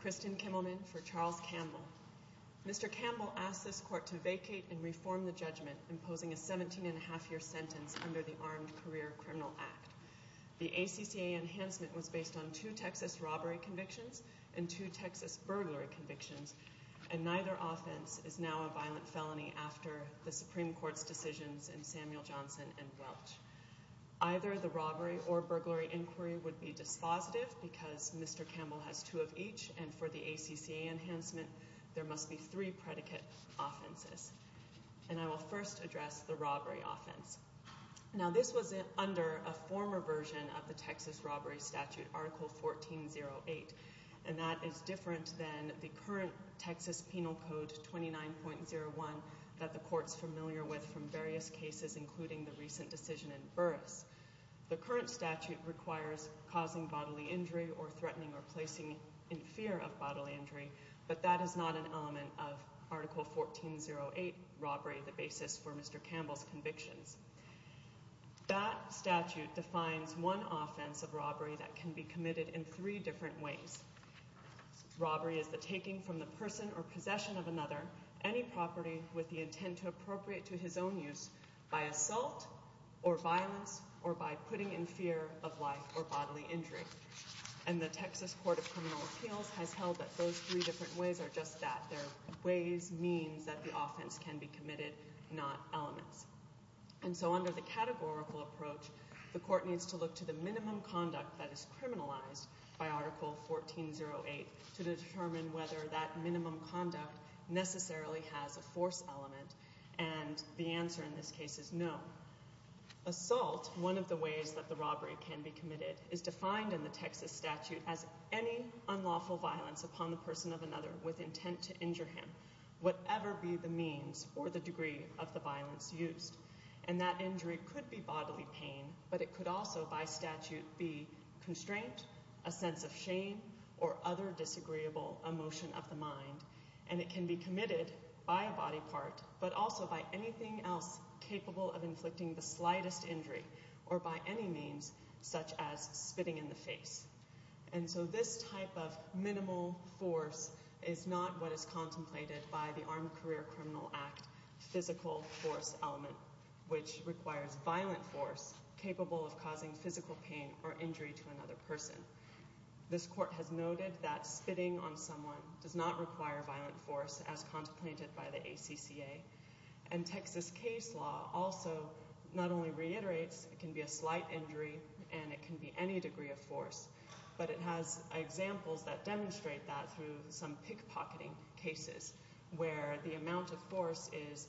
Christian Kimmelman for Charles Campbell. Mr. Campbell asked this court to vacate and reform the judgment imposing a 17 and a half year sentence under the Armed Career Criminal Act. The ACCA enhancement was based on two Texas robbery convictions and two Texas burglary convictions and neither offense is now a violent felony after the Supreme Court's decisions in Samuel Johnson and Welch. Either the robbery or burglary inquiry would be dispositive because Mr. Campbell has two of each and for the ACCA enhancement there must be three predicate offenses. And I will first address the robbery offense. Now this was under a former version of the Texas robbery statute article 1408 and that is different than the current Texas Penal Code 29.01 that the court's familiar with from various cases including the recent decision in Burris. The current statute requires causing bodily injury or threatening or placing in fear of bodily injury but that is not an element of article 1408 robbery the basis for Mr. Campbell's convictions. That statute defines one offense of robbery that can be committed in three different ways. Robbery is the taking from the person or possession of another any property with the intent to appropriate to his own use by assault or violence or by putting in fear of life or bodily injury. And the Texas Court of Criminal Appeals has held that those three different ways are just that. Their ways means that the offense can be committed not elements. And so under the categorical approach the court needs to look to the minimum conduct that is criminalized by article 1408 to determine whether that minimum conduct necessarily has a force element and the answer in this case is no. Assault one of the ways that the robbery can be committed is defined in the Texas statute as any unlawful violence upon the person of another with intent to injure him whatever be the means or the degree of the violence used. And that injury could be bodily pain but it could also by statute be constraint, a sense of by a body part but also by anything else capable of inflicting the slightest injury or by any means such as spitting in the face. And so this type of minimal force is not what is contemplated by the Armed Career Criminal Act physical force element which requires violent force capable of causing physical pain or injury to another person. This court has noted that spitting on someone does not require violent force as contemplated by the ACCA. And Texas case law also not only reiterates it can be a slight injury and it can be any degree of force but it has examples that demonstrate that through some pickpocketing cases where the amount of force is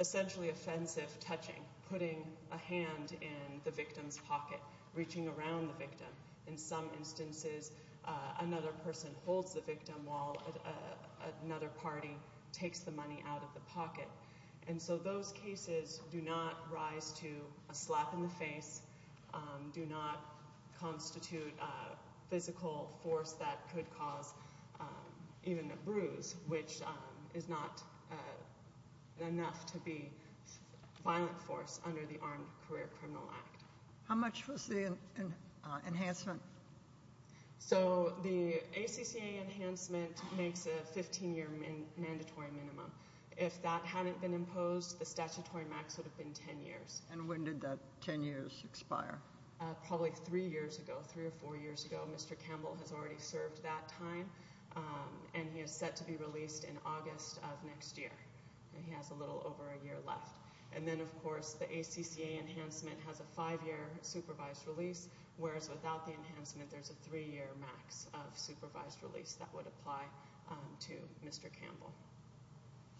essentially offensive touching, putting a hand in the victim's pocket, reaching around the victim. In some instances another person holds the another party takes the money out of the pocket. And so those cases do not rise to a slap in the face, do not constitute physical force that could cause even a bruise which is not enough to be violent force under the Armed Career Criminal Act. How much was the enhancement? So the ACCA enhancement makes a 15 year mandatory minimum. If that hadn't been imposed the statutory max would have been 10 years. And when did that 10 years expire? Probably three years ago, three or four years ago. Mr. Campbell has already served that time and he is set to be released in August of next year. He has a little over a year left. And then of course the ACCA enhancement has a five year supervised release whereas without the enhancement there's a three year max of supervised release that would apply to Mr. Campbell.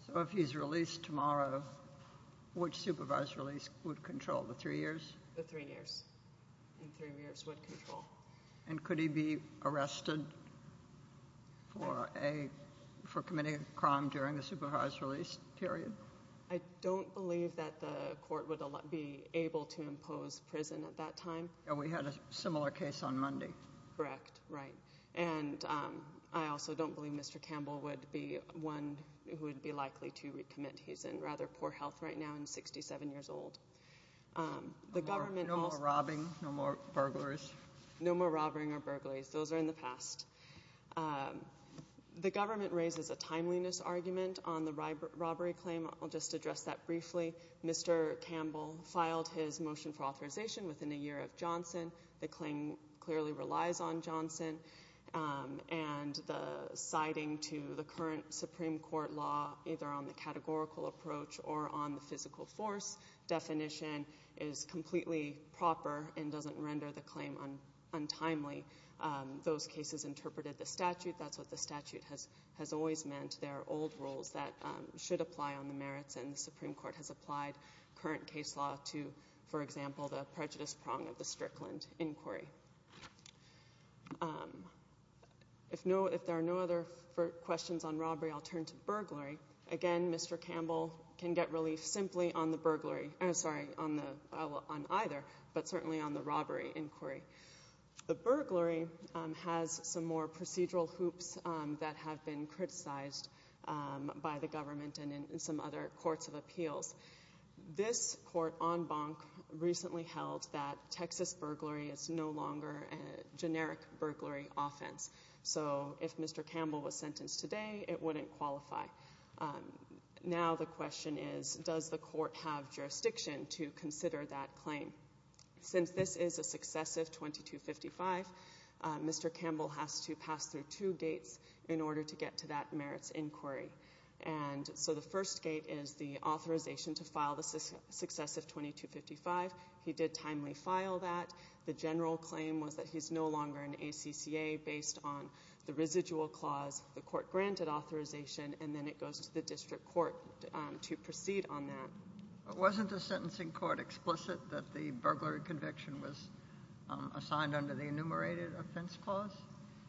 So if he's released tomorrow, which supervised release would control? The three years? The three years, the three years would control. And could he be arrested for committing a crime during the supervised release period? I don't believe that the court would be able to impose prison at that time. We had a similar case on Monday. Correct, right. And I also don't believe Mr. Campbell would be one who would be likely to recommit. He's in rather poor health right now and 67 years old. No more robbing, no more burglaries? No more robberies or burglaries. Those are in the past. The government raises a timeliness argument on the robbery claim. I'll just address that briefly. Mr. Campbell filed his motion for authorization within a year of Johnson. The claim clearly relies on Johnson and the citing to the current Supreme Court law either on the categorical approach or on the physical force definition is completely proper and doesn't render the claim untimely. Those cases interpreted the statute. That's what the statute has always meant. There are old rules that should apply on the merits and the Supreme Court has applied current case law to, for example, the prejudice prong of the Strickland inquiry. If there are no other questions on robbery, I'll turn to burglary. Again, Mr. Campbell can get relief simply on the burglary. Sorry, on either, but certainly on the robbery inquiry. The burglary has some more procedural hoops that have been criticized by the government and in some other courts of appeals. This court on Bonk recently held that Texas burglary is no longer a generic burglary offense. So if Mr. Campbell was sentenced today, it wouldn't qualify. Now the question is, does the court have jurisdiction to consider that claim? Since this is a successive 2255, Mr. Campbell has to pass through two gates in order to get to that merits inquiry. And so the first gate is the authorization to file the successive 2255. He did timely file that. The general claim was that he's no longer an ACCA based on the residual clause, the court granted authorization, and then it goes to the district court to proceed on that. Wasn't the sentencing court explicit that the burglary conviction was assigned under the enumerated offense clause?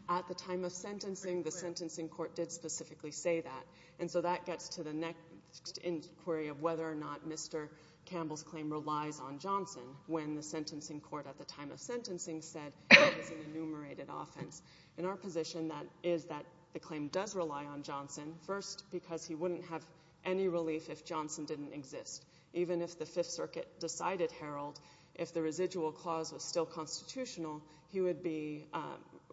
At the time of sentencing, the sentencing court did specifically say that. And so that gets to the next inquiry of whether or not Mr. Campbell's claim relies on Johnson when the sentencing court at the time of sentencing said it was an enumerated offense. In our position, that is that the claim does rely on Johnson. First, because he wouldn't have any relief if Johnson didn't exist. Even if the Fifth Circuit decided, Harold, if the residual clause was still constitutional, he would be,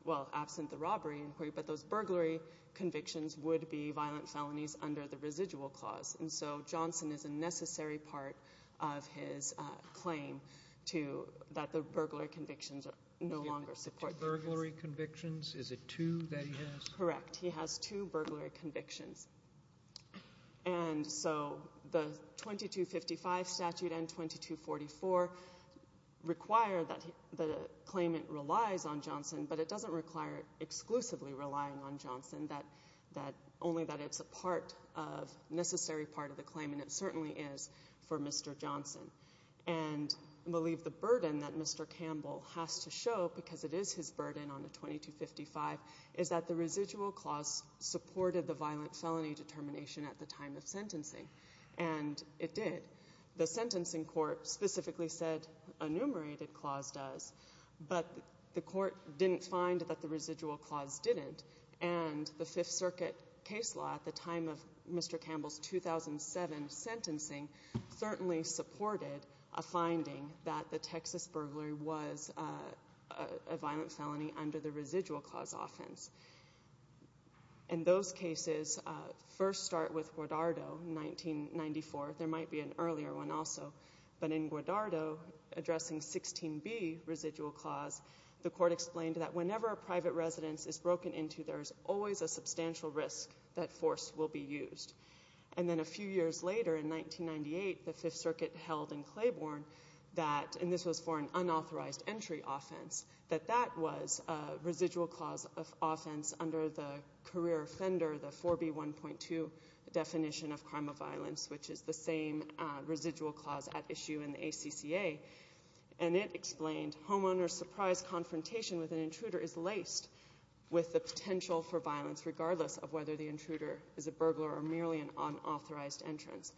well, absent the robbery inquiry, but those burglary convictions would be violent felonies under the residual clause. And so Johnson is a necessary part of his claim to that the burglary convictions are no longer supported. Two burglary convictions? Is it two that he has? Correct. He has two burglary convictions. And so the 2255 statute and 2244 require that the claimant relies on Johnson, but it doesn't require exclusively relying on Johnson, that only that it's a part of, necessary part of the claim, and it certainly is for Mr. Johnson. And I believe the burden that Mr. Campbell has to show, because it is his burden on the 2255, is that the residual clause supported the violent felony determination at the time of sentencing, and it did. The sentencing court specifically said enumerated clause does, but the court didn't find that the residual clause didn't, and the Fifth Circuit case law at the time of Mr. Campbell's 2007 sentencing certainly supported a finding that the Texas burglary was a violent felony under the residual clause offense. And those cases first start with Guardado, 1994. There might be an earlier one also. But in Guardado, addressing 16b, residual clause, the court explained that whenever a private residence is broken into, there's always a substantial risk that force will be used. And then a few years later, in 1998, the Fifth Circuit held in Claiborne that, and this was for an unauthorized entry offense, that that was a residual clause of offense under the career offender, the 4b1.2 definition of crime of violence, which is the same residual clause at issue in the ACCA. And it explained, homeowner's surprise confrontation with an intruder is laced with the potential for violence, regardless of whether the intruder is a burglar or merely an unauthorized entrant.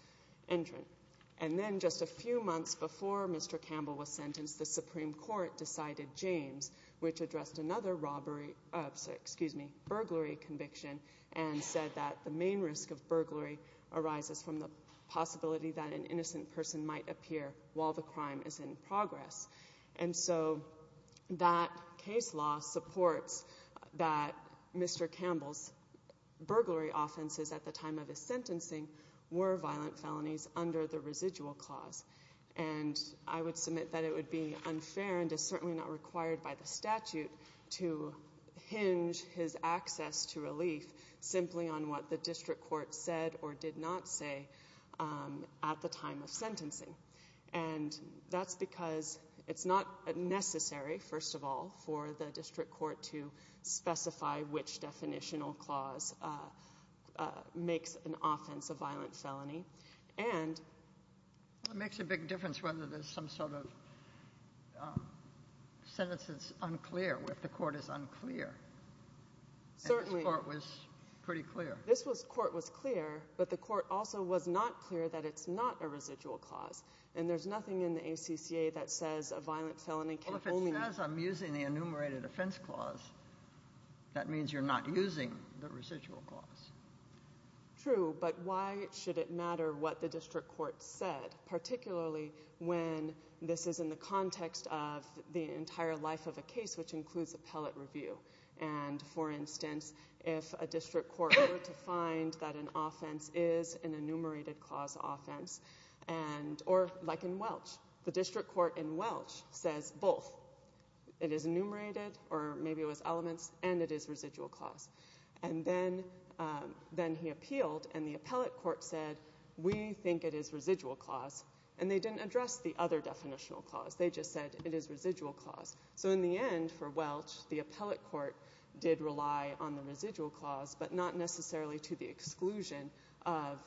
And then just a few months before Mr. Campbell was sentenced, the Supreme Court decided James, which addressed another robbery, excuse me, burglary conviction, and said that the main risk of burglary arises from the possibility that an innocent person might appear while the crime is in progress. And so that case law supports that Mr. Campbell's burglary offenses at the time of his sentencing were violent felonies under the residual clause. And I would submit that it would be unfair and is certainly not required by the statute to hinge his access to relief simply on what the district court said or did not say at the time of sentencing. And that's because it's not necessary, first of all, for the district court to specify which definitional clause makes an offense a violent felony. And — It makes a big difference whether there's some sort of sentence that's unclear, if the court is unclear. Certainly. And this Court was pretty clear. This Court was clear, but the court also was not clear that it's not a residual clause. And there's nothing in the ACCA that says a violent felony can only — Well, if it says I'm using the enumerated offense clause, that means you're not using the residual clause. True. But why should it matter what the district court said, particularly when this is in the context of the entire life of a case, which includes appellate review? And, for instance, if a district court were to find that an offense is an enumerated clause offense, and — or like in Welch, the district court in Welch says both. It is enumerated, or maybe it was elements, and it is residual clause. And then he appealed, and the appellate court said, we think it is residual clause. And they didn't address the other definitional clause. They just said it is residual clause. So in the end, for Welch, the appellate court did rely on the residual clause, but not necessarily to the exclusion of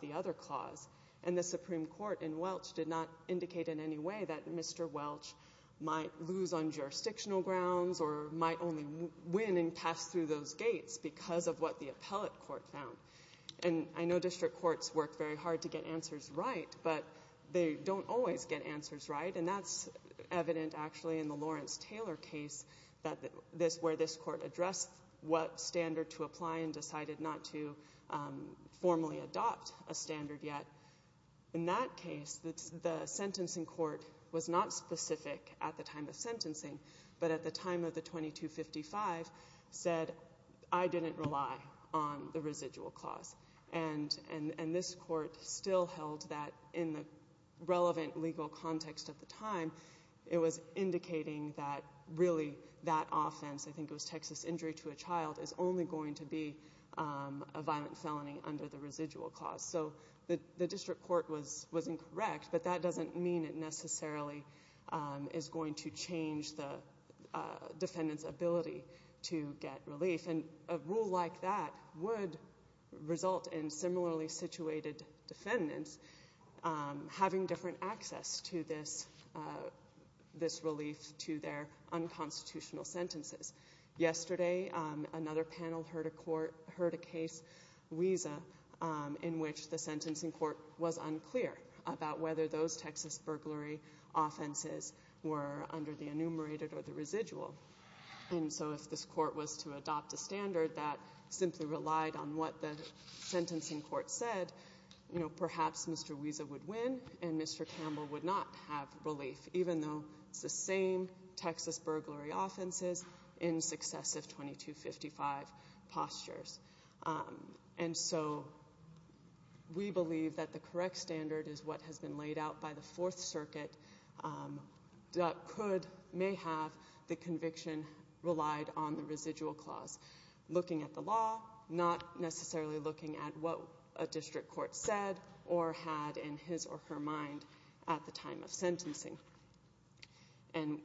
the other clause. And the Supreme Court in Welch did not indicate in any way that Mr. Welch might lose on jurisdictional grounds or might only win and pass through those gates because of what the appellate court found. And I know district courts work very hard to get answers right, but they don't always get answers right. And that's evident, actually, in the Lawrence-Taylor case where this court addressed what standard to apply and decided not to formally adopt a standard yet. In that case, the sentencing court was not specific at the time of sentencing, but at the time of the 2255 said, I didn't rely on the residual clause. And this court still held that in the relevant legal context at the time, it was indicating that really that offense, I think it was Texas injury to a child, is only going to be a violent felony under the residual clause. So the district court was incorrect, but that doesn't mean it necessarily is going to change the defendant's ability to get relief. And a rule like that would result in similarly situated defendants having different access to this relief to their unconstitutional sentences. Yesterday, another panel heard a case, WESA, in which the sentencing court was unclear about whether those Texas burglary offenses were under the enumerated or the residual. And so if this court was to adopt a standard that simply relied on what the sentencing court said, you know, perhaps Mr. WESA would win and Mr. Campbell would not have relief, even though it's the same Texas burglary offenses in successive 2255 postures. And so we believe that the correct standard is what has been laid out by the Fourth Circuit that could, may have the conviction relied on the residual clause. Looking at the law, not necessarily looking at what a district court said or had in his or her mind at the time of sentencing. And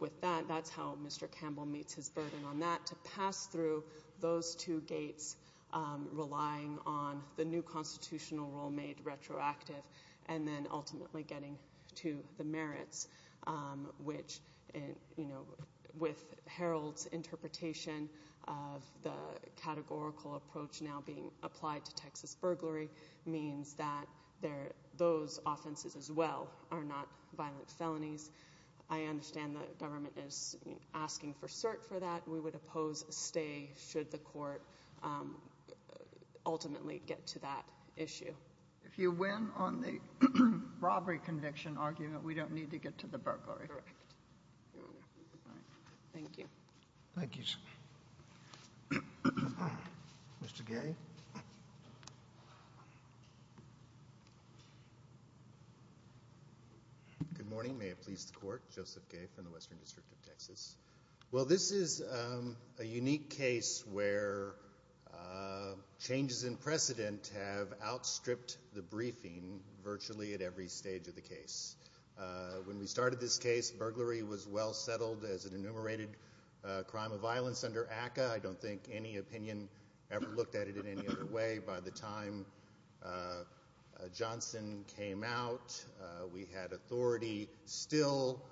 with that, that's how Mr. Campbell meets his burden on that, to pass through those two gates relying on the new constitutional rule made retroactive and then ultimately getting to the merits, which, you know, with Harold's interpretation of the categorical approach now being applied to Texas burglary, means that those offenses as well are not violent felonies. I understand the government is asking for cert for that. We would oppose stay should the court ultimately get to that issue. If you win on the robbery conviction argument, we don't need to get to the burglary. Correct. Thank you. Thank you, sir. Mr. Gay? Good morning. May it please the court. Joseph Gay from the Western District of Texas. Well, this is a unique case where changes in precedent have outstripped the briefing virtually at every stage of the case. When we started this case, burglary was well settled as an enumerated crime of violence under ACCA. I don't think any opinion ever looked at it in any other way. By the time Johnson came out, we had authority still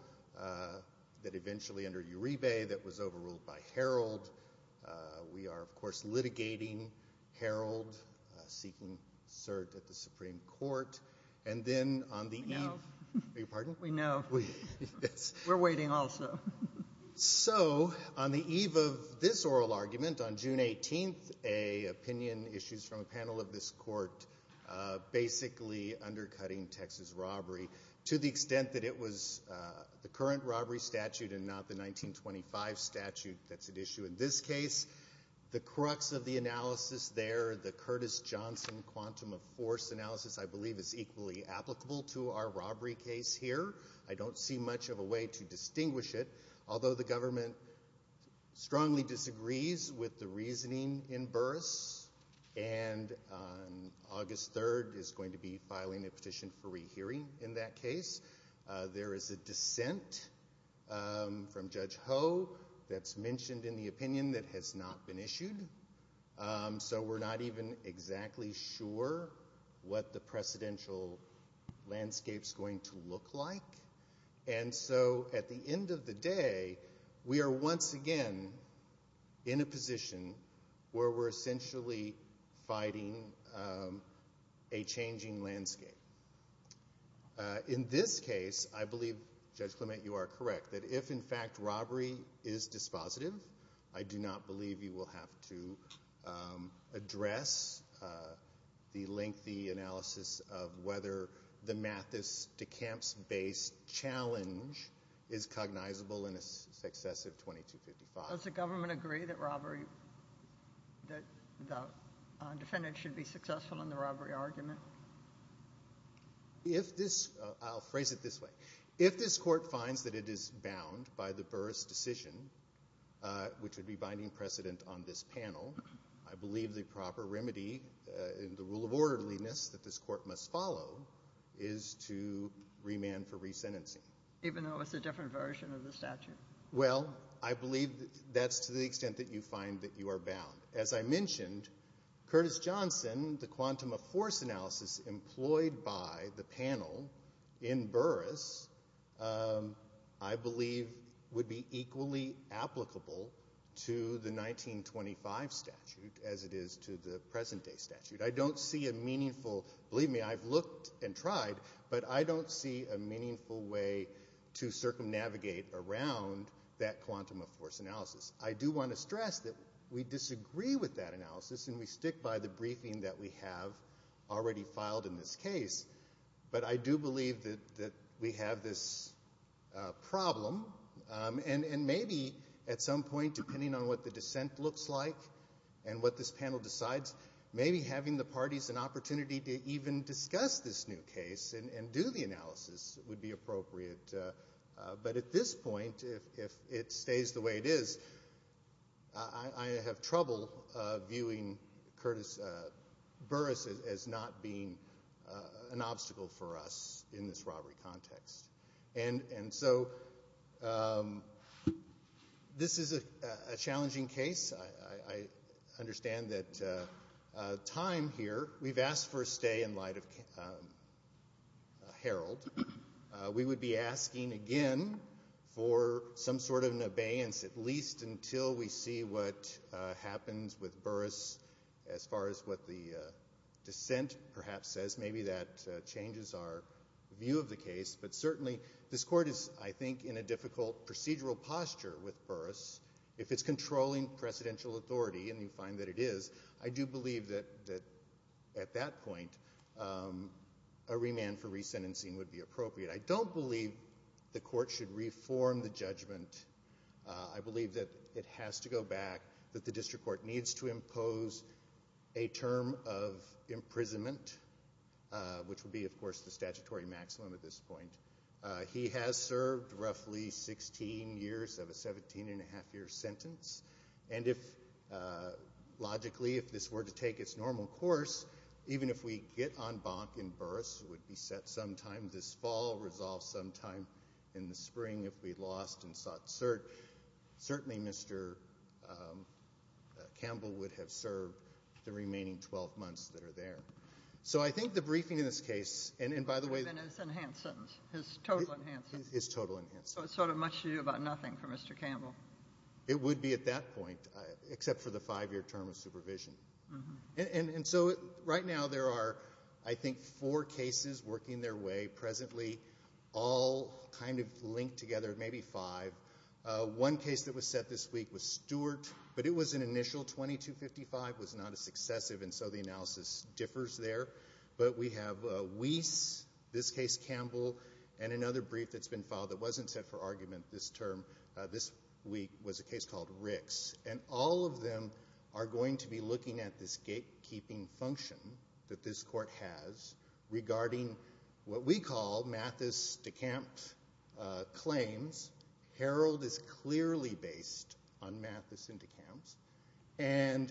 that eventually under Uribe that was overruled by Harold. We are, of course, litigating Harold, seeking cert at the Supreme Court. And then on the eve of this oral argument, on June 18th, a opinion issued from a panel of this court basically undercutting Texas robbery to the extent that it was the current robbery statute and not the 1925 statute that's at issue in this case. The crux of the analysis there, the Curtis Johnson quantum of force analysis, I believe is equally applicable to our robbery case here. I don't see much of a way to distinguish it. Although the government strongly disagrees with the reasoning in Burris, and on August 3rd is going to be filing a petition for rehearing in that case, there is a dissent from Judge Ho that's mentioned in the opinion that has not been issued. So we're not even exactly sure what the precedential landscape is going to look like. And so at the end of the day, we are once again in a position where we're essentially fighting a changing landscape. In this case, I believe, Judge Clement, you are correct, that if, in fact, robbery is dispositive, I do not believe you will have to address the lengthy analysis of whether the Mathis-DeCamps-based challenge is cognizable in a successive 2255. Does the government agree that robbery, that the defendant should be successful in the robbery argument? I'll phrase it this way. If this court finds that it is bound by the Burris decision, which would be binding precedent on this panel, I believe the proper remedy in the rule of orderliness that this court must follow is to remand for resentencing. Even though it's a different version of the statute? Well, I believe that's to the extent that you find that you are bound. As I mentioned, Curtis Johnson, the quantum of force analysis employed by the panel in Burris, I believe would be equally applicable to the 1925 statute as it is to the present day statute. I don't see a meaningful, believe me, I've looked and tried, but I don't see a meaningful way to circumnavigate around that quantum of force analysis. I do want to stress that we disagree with that analysis, and we stick by the briefing that we have already filed in this case. But I do believe that we have this problem, and maybe at some point, depending on what the dissent looks like and what this panel decides, maybe having the parties an opportunity to even discuss this new case and do the analysis would be appropriate. But at this point, if it stays the way it is, I have trouble viewing Curtis Burris as not being an obstacle for us in this robbery context. And so this is a challenging case. I understand that time here, we've asked for a stay in light of Harold. We would be asking again for some sort of an abeyance, at least until we see what happens with Burris as far as what the dissent perhaps says. Maybe that changes our view of the case. But certainly this Court is, I think, in a difficult procedural posture with Burris. If it's controlling presidential authority, and you find that it is, I do believe that at that point a remand for resentencing would be appropriate. I don't believe the Court should reform the judgment. I believe that it has to go back, that the district court needs to impose a term of imprisonment, which would be, of course, the statutory maximum at this point. He has served roughly 16 years of a 17-and-a-half-year sentence. And if, logically, if this were to take its normal course, even if we get en banc in Burris, it would be set sometime this fall, resolved sometime in the spring if we lost in Sat-Cert, certainly Mr. Campbell would have served the remaining 12 months that are there. So I think the briefing in this case, and by the way— It would have been his enhanced sentence, his total enhanced sentence. His total enhanced sentence. So it's sort of much to do about nothing for Mr. Campbell. It would be at that point, except for the five-year term of supervision. And so right now there are, I think, four cases working their way presently, all kind of linked together, maybe five. One case that was set this week was Stewart, but it was an initial 2255, was not a successive, and so the analysis differs there. But we have Weiss, this case Campbell, and another brief that's been filed that wasn't set for argument this term, this week, was a case called Ricks. And all of them are going to be looking at this gatekeeping function that this court has regarding what we call Mathis-DeKamp claims. Harold is clearly based on Mathis and DeKamp, and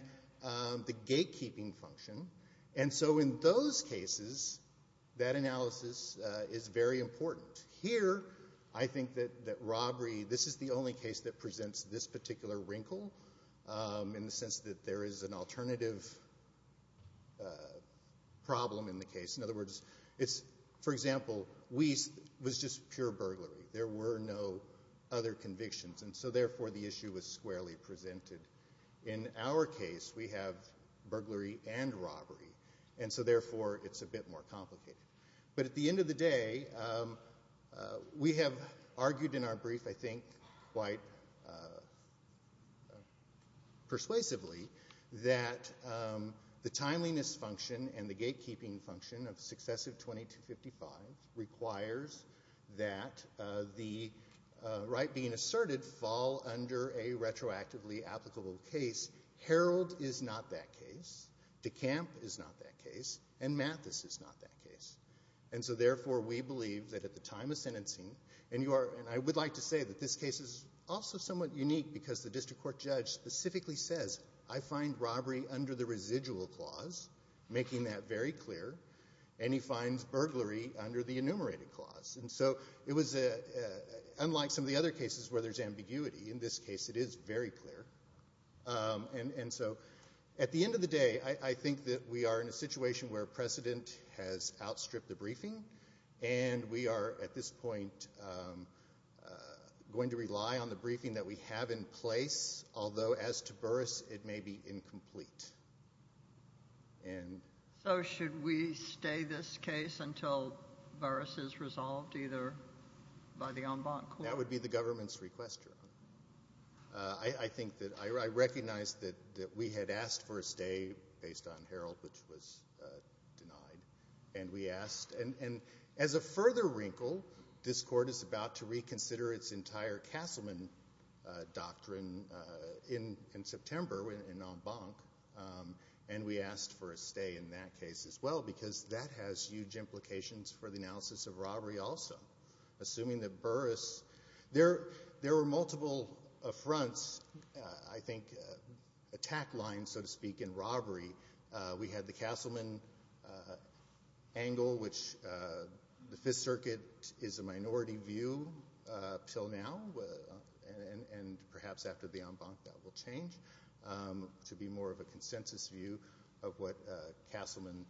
the gatekeeping function. And so in those cases, that analysis is very important. Here, I think that robbery, this is the only case that presents this particular wrinkle, in the sense that there is an alternative problem in the case. In other words, for example, Weiss was just pure burglary. There were no other convictions, and so therefore the issue was squarely presented. In our case, we have burglary and robbery, and so therefore it's a bit more complicated. But at the end of the day, we have argued in our brief, I think quite persuasively, that the timeliness function and the gatekeeping function of successive 2255 requires that the right being asserted fall under a retroactively applicable case. Harold is not that case. DeKamp is not that case. And Mathis is not that case. And so therefore, we believe that at the time of sentencing, and I would like to say that this case is also somewhat unique because the district court judge specifically says, I find robbery under the residual clause, making that very clear, and he finds burglary under the enumerated clause. And so it was unlike some of the other cases where there's ambiguity. In this case, it is very clear. And so at the end of the day, I think that we are in a situation where precedent has outstripped the briefing, and we are at this point going to rely on the briefing that we have in place, although as to Burris, it may be incomplete. So should we stay this case until Burris is resolved either by the en banc court? That would be the government's request, Your Honor. I think that I recognize that we had asked for a stay based on Harold, which was denied, and we asked, and as a further wrinkle, this court is about to reconsider its entire Castleman doctrine in September in en banc, and we asked for a stay in that case as well because that has huge implications for the analysis of robbery also. Assuming that Burris, there were multiple affronts, I think, attack lines, so to speak, in robbery. We had the Castleman angle, which the Fifth Circuit is a minority view until now, and perhaps after the en banc that will change to be more of a consensus view of what Castleman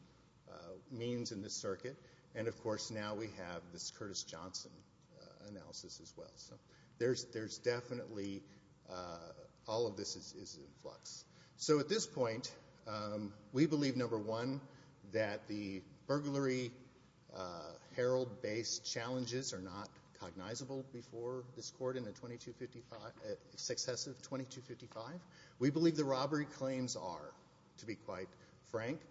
means in this circuit. And, of course, now we have this Curtis Johnson analysis as well. So there's definitely all of this is in flux. So at this point, we believe, number one, that the burglary Harold-based challenges are not cognizable before this court in a successive 2255. We believe the robbery claims are, to be quite frank.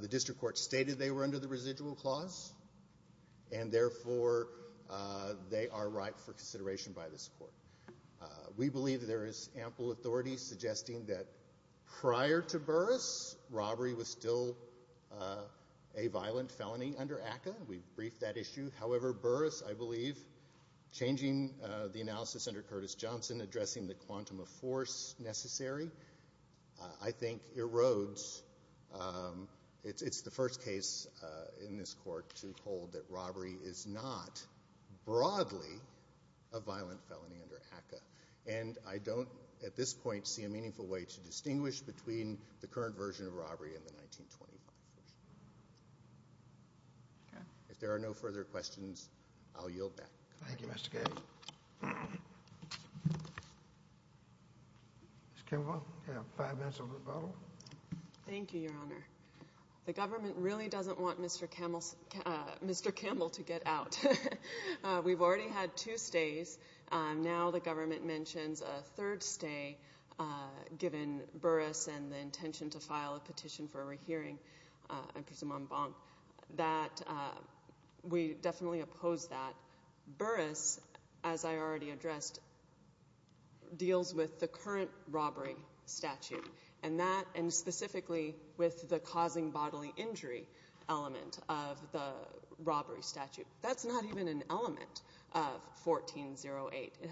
The district court stated they were under the residual clause, and therefore they are ripe for consideration by this court. We believe there is ample authority suggesting that prior to Burris, robbery was still a violent felony under ACCA. We've briefed that issue. However, Burris, I believe, changing the analysis under Curtis Johnson, addressing the quantum of force necessary, I think erodes. It's the first case in this court to hold that robbery is not broadly a violent felony under ACCA. And I don't, at this point, see a meaningful way to distinguish between the current version of robbery and the 1925 version. If there are no further questions, I'll yield back. Thank you, Mr. Gabbard. Ms. Campbell, you have five minutes of rebuttal. Thank you, Your Honor. The government really doesn't want Mr. Campbell to get out. We've already had two stays. Now the government mentions a third stay, given Burris and the intention to file a petition for a rehearing, I presume on Bonk, that we definitely oppose that. Burris, as I already addressed, deals with the current robbery statute, and specifically with the causing bodily injury element of the robbery statute. That's not even an element of 1408. It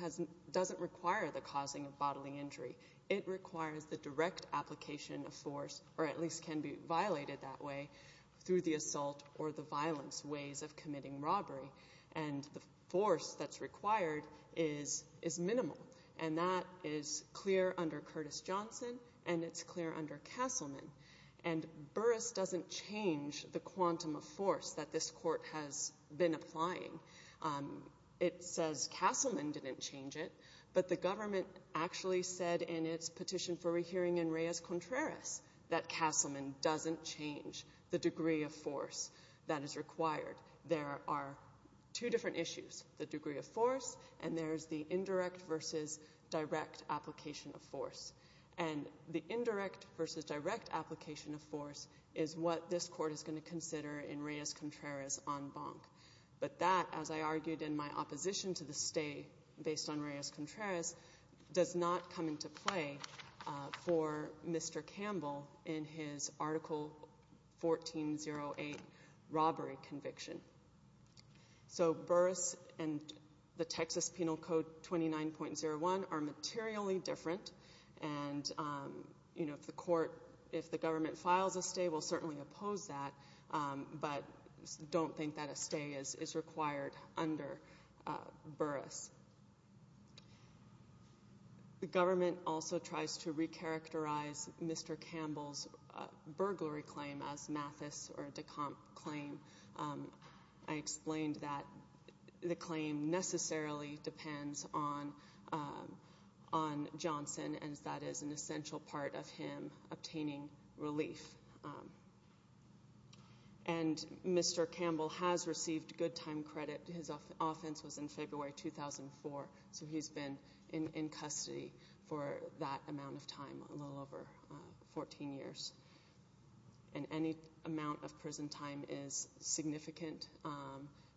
doesn't require the causing of bodily injury. It requires the direct application of force, or at least can be violated that way, through the assault or the violence ways of committing robbery. And the force that's required is minimal. And that is clear under Curtis Johnson, and it's clear under Castleman. And Burris doesn't change the quantum of force that this Court has been applying. It says Castleman didn't change it, but the government actually said in its petition for rehearing in Reyes-Contreras that Castleman doesn't change the degree of force that is required. There are two different issues, the degree of force and there's the indirect versus direct application of force. And the indirect versus direct application of force is what this Court is going to consider in Reyes-Contreras on Bonk. But that, as I argued in my opposition to the stay based on Reyes-Contreras, does not come into play for Mr. Campbell in his Article 1408 robbery conviction. So Burris and the Texas Penal Code 29.01 are materially different. And, you know, if the Court, if the government files a stay, we'll certainly oppose that, but don't think that a stay is required under Burris. The government also tries to recharacterize Mr. Campbell's burglary claim as Mathis or de Camp claim. I explained that the claim necessarily depends on Johnson, and that is an essential part of him obtaining relief. And Mr. Campbell has received good time credit. His offense was in February 2004, so he's been in custody for that amount of time, a little over 14 years. And any amount of prison time is significant,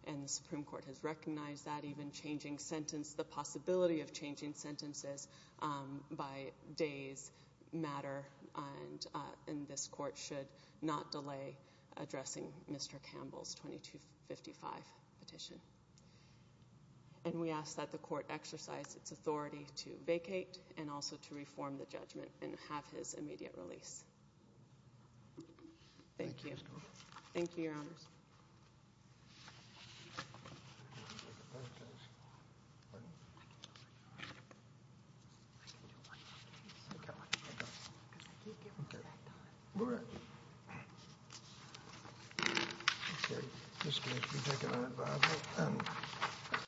and the Supreme Court has recognized that even changing sentence, the possibility of changing sentences by days matter, and this Court should not delay addressing Mr. Campbell's 2255 petition. And we ask that the Court exercise its authority to vacate and also to reform the judgment and have his immediate release. Thank you. Thank you, Your Honors. Thank you.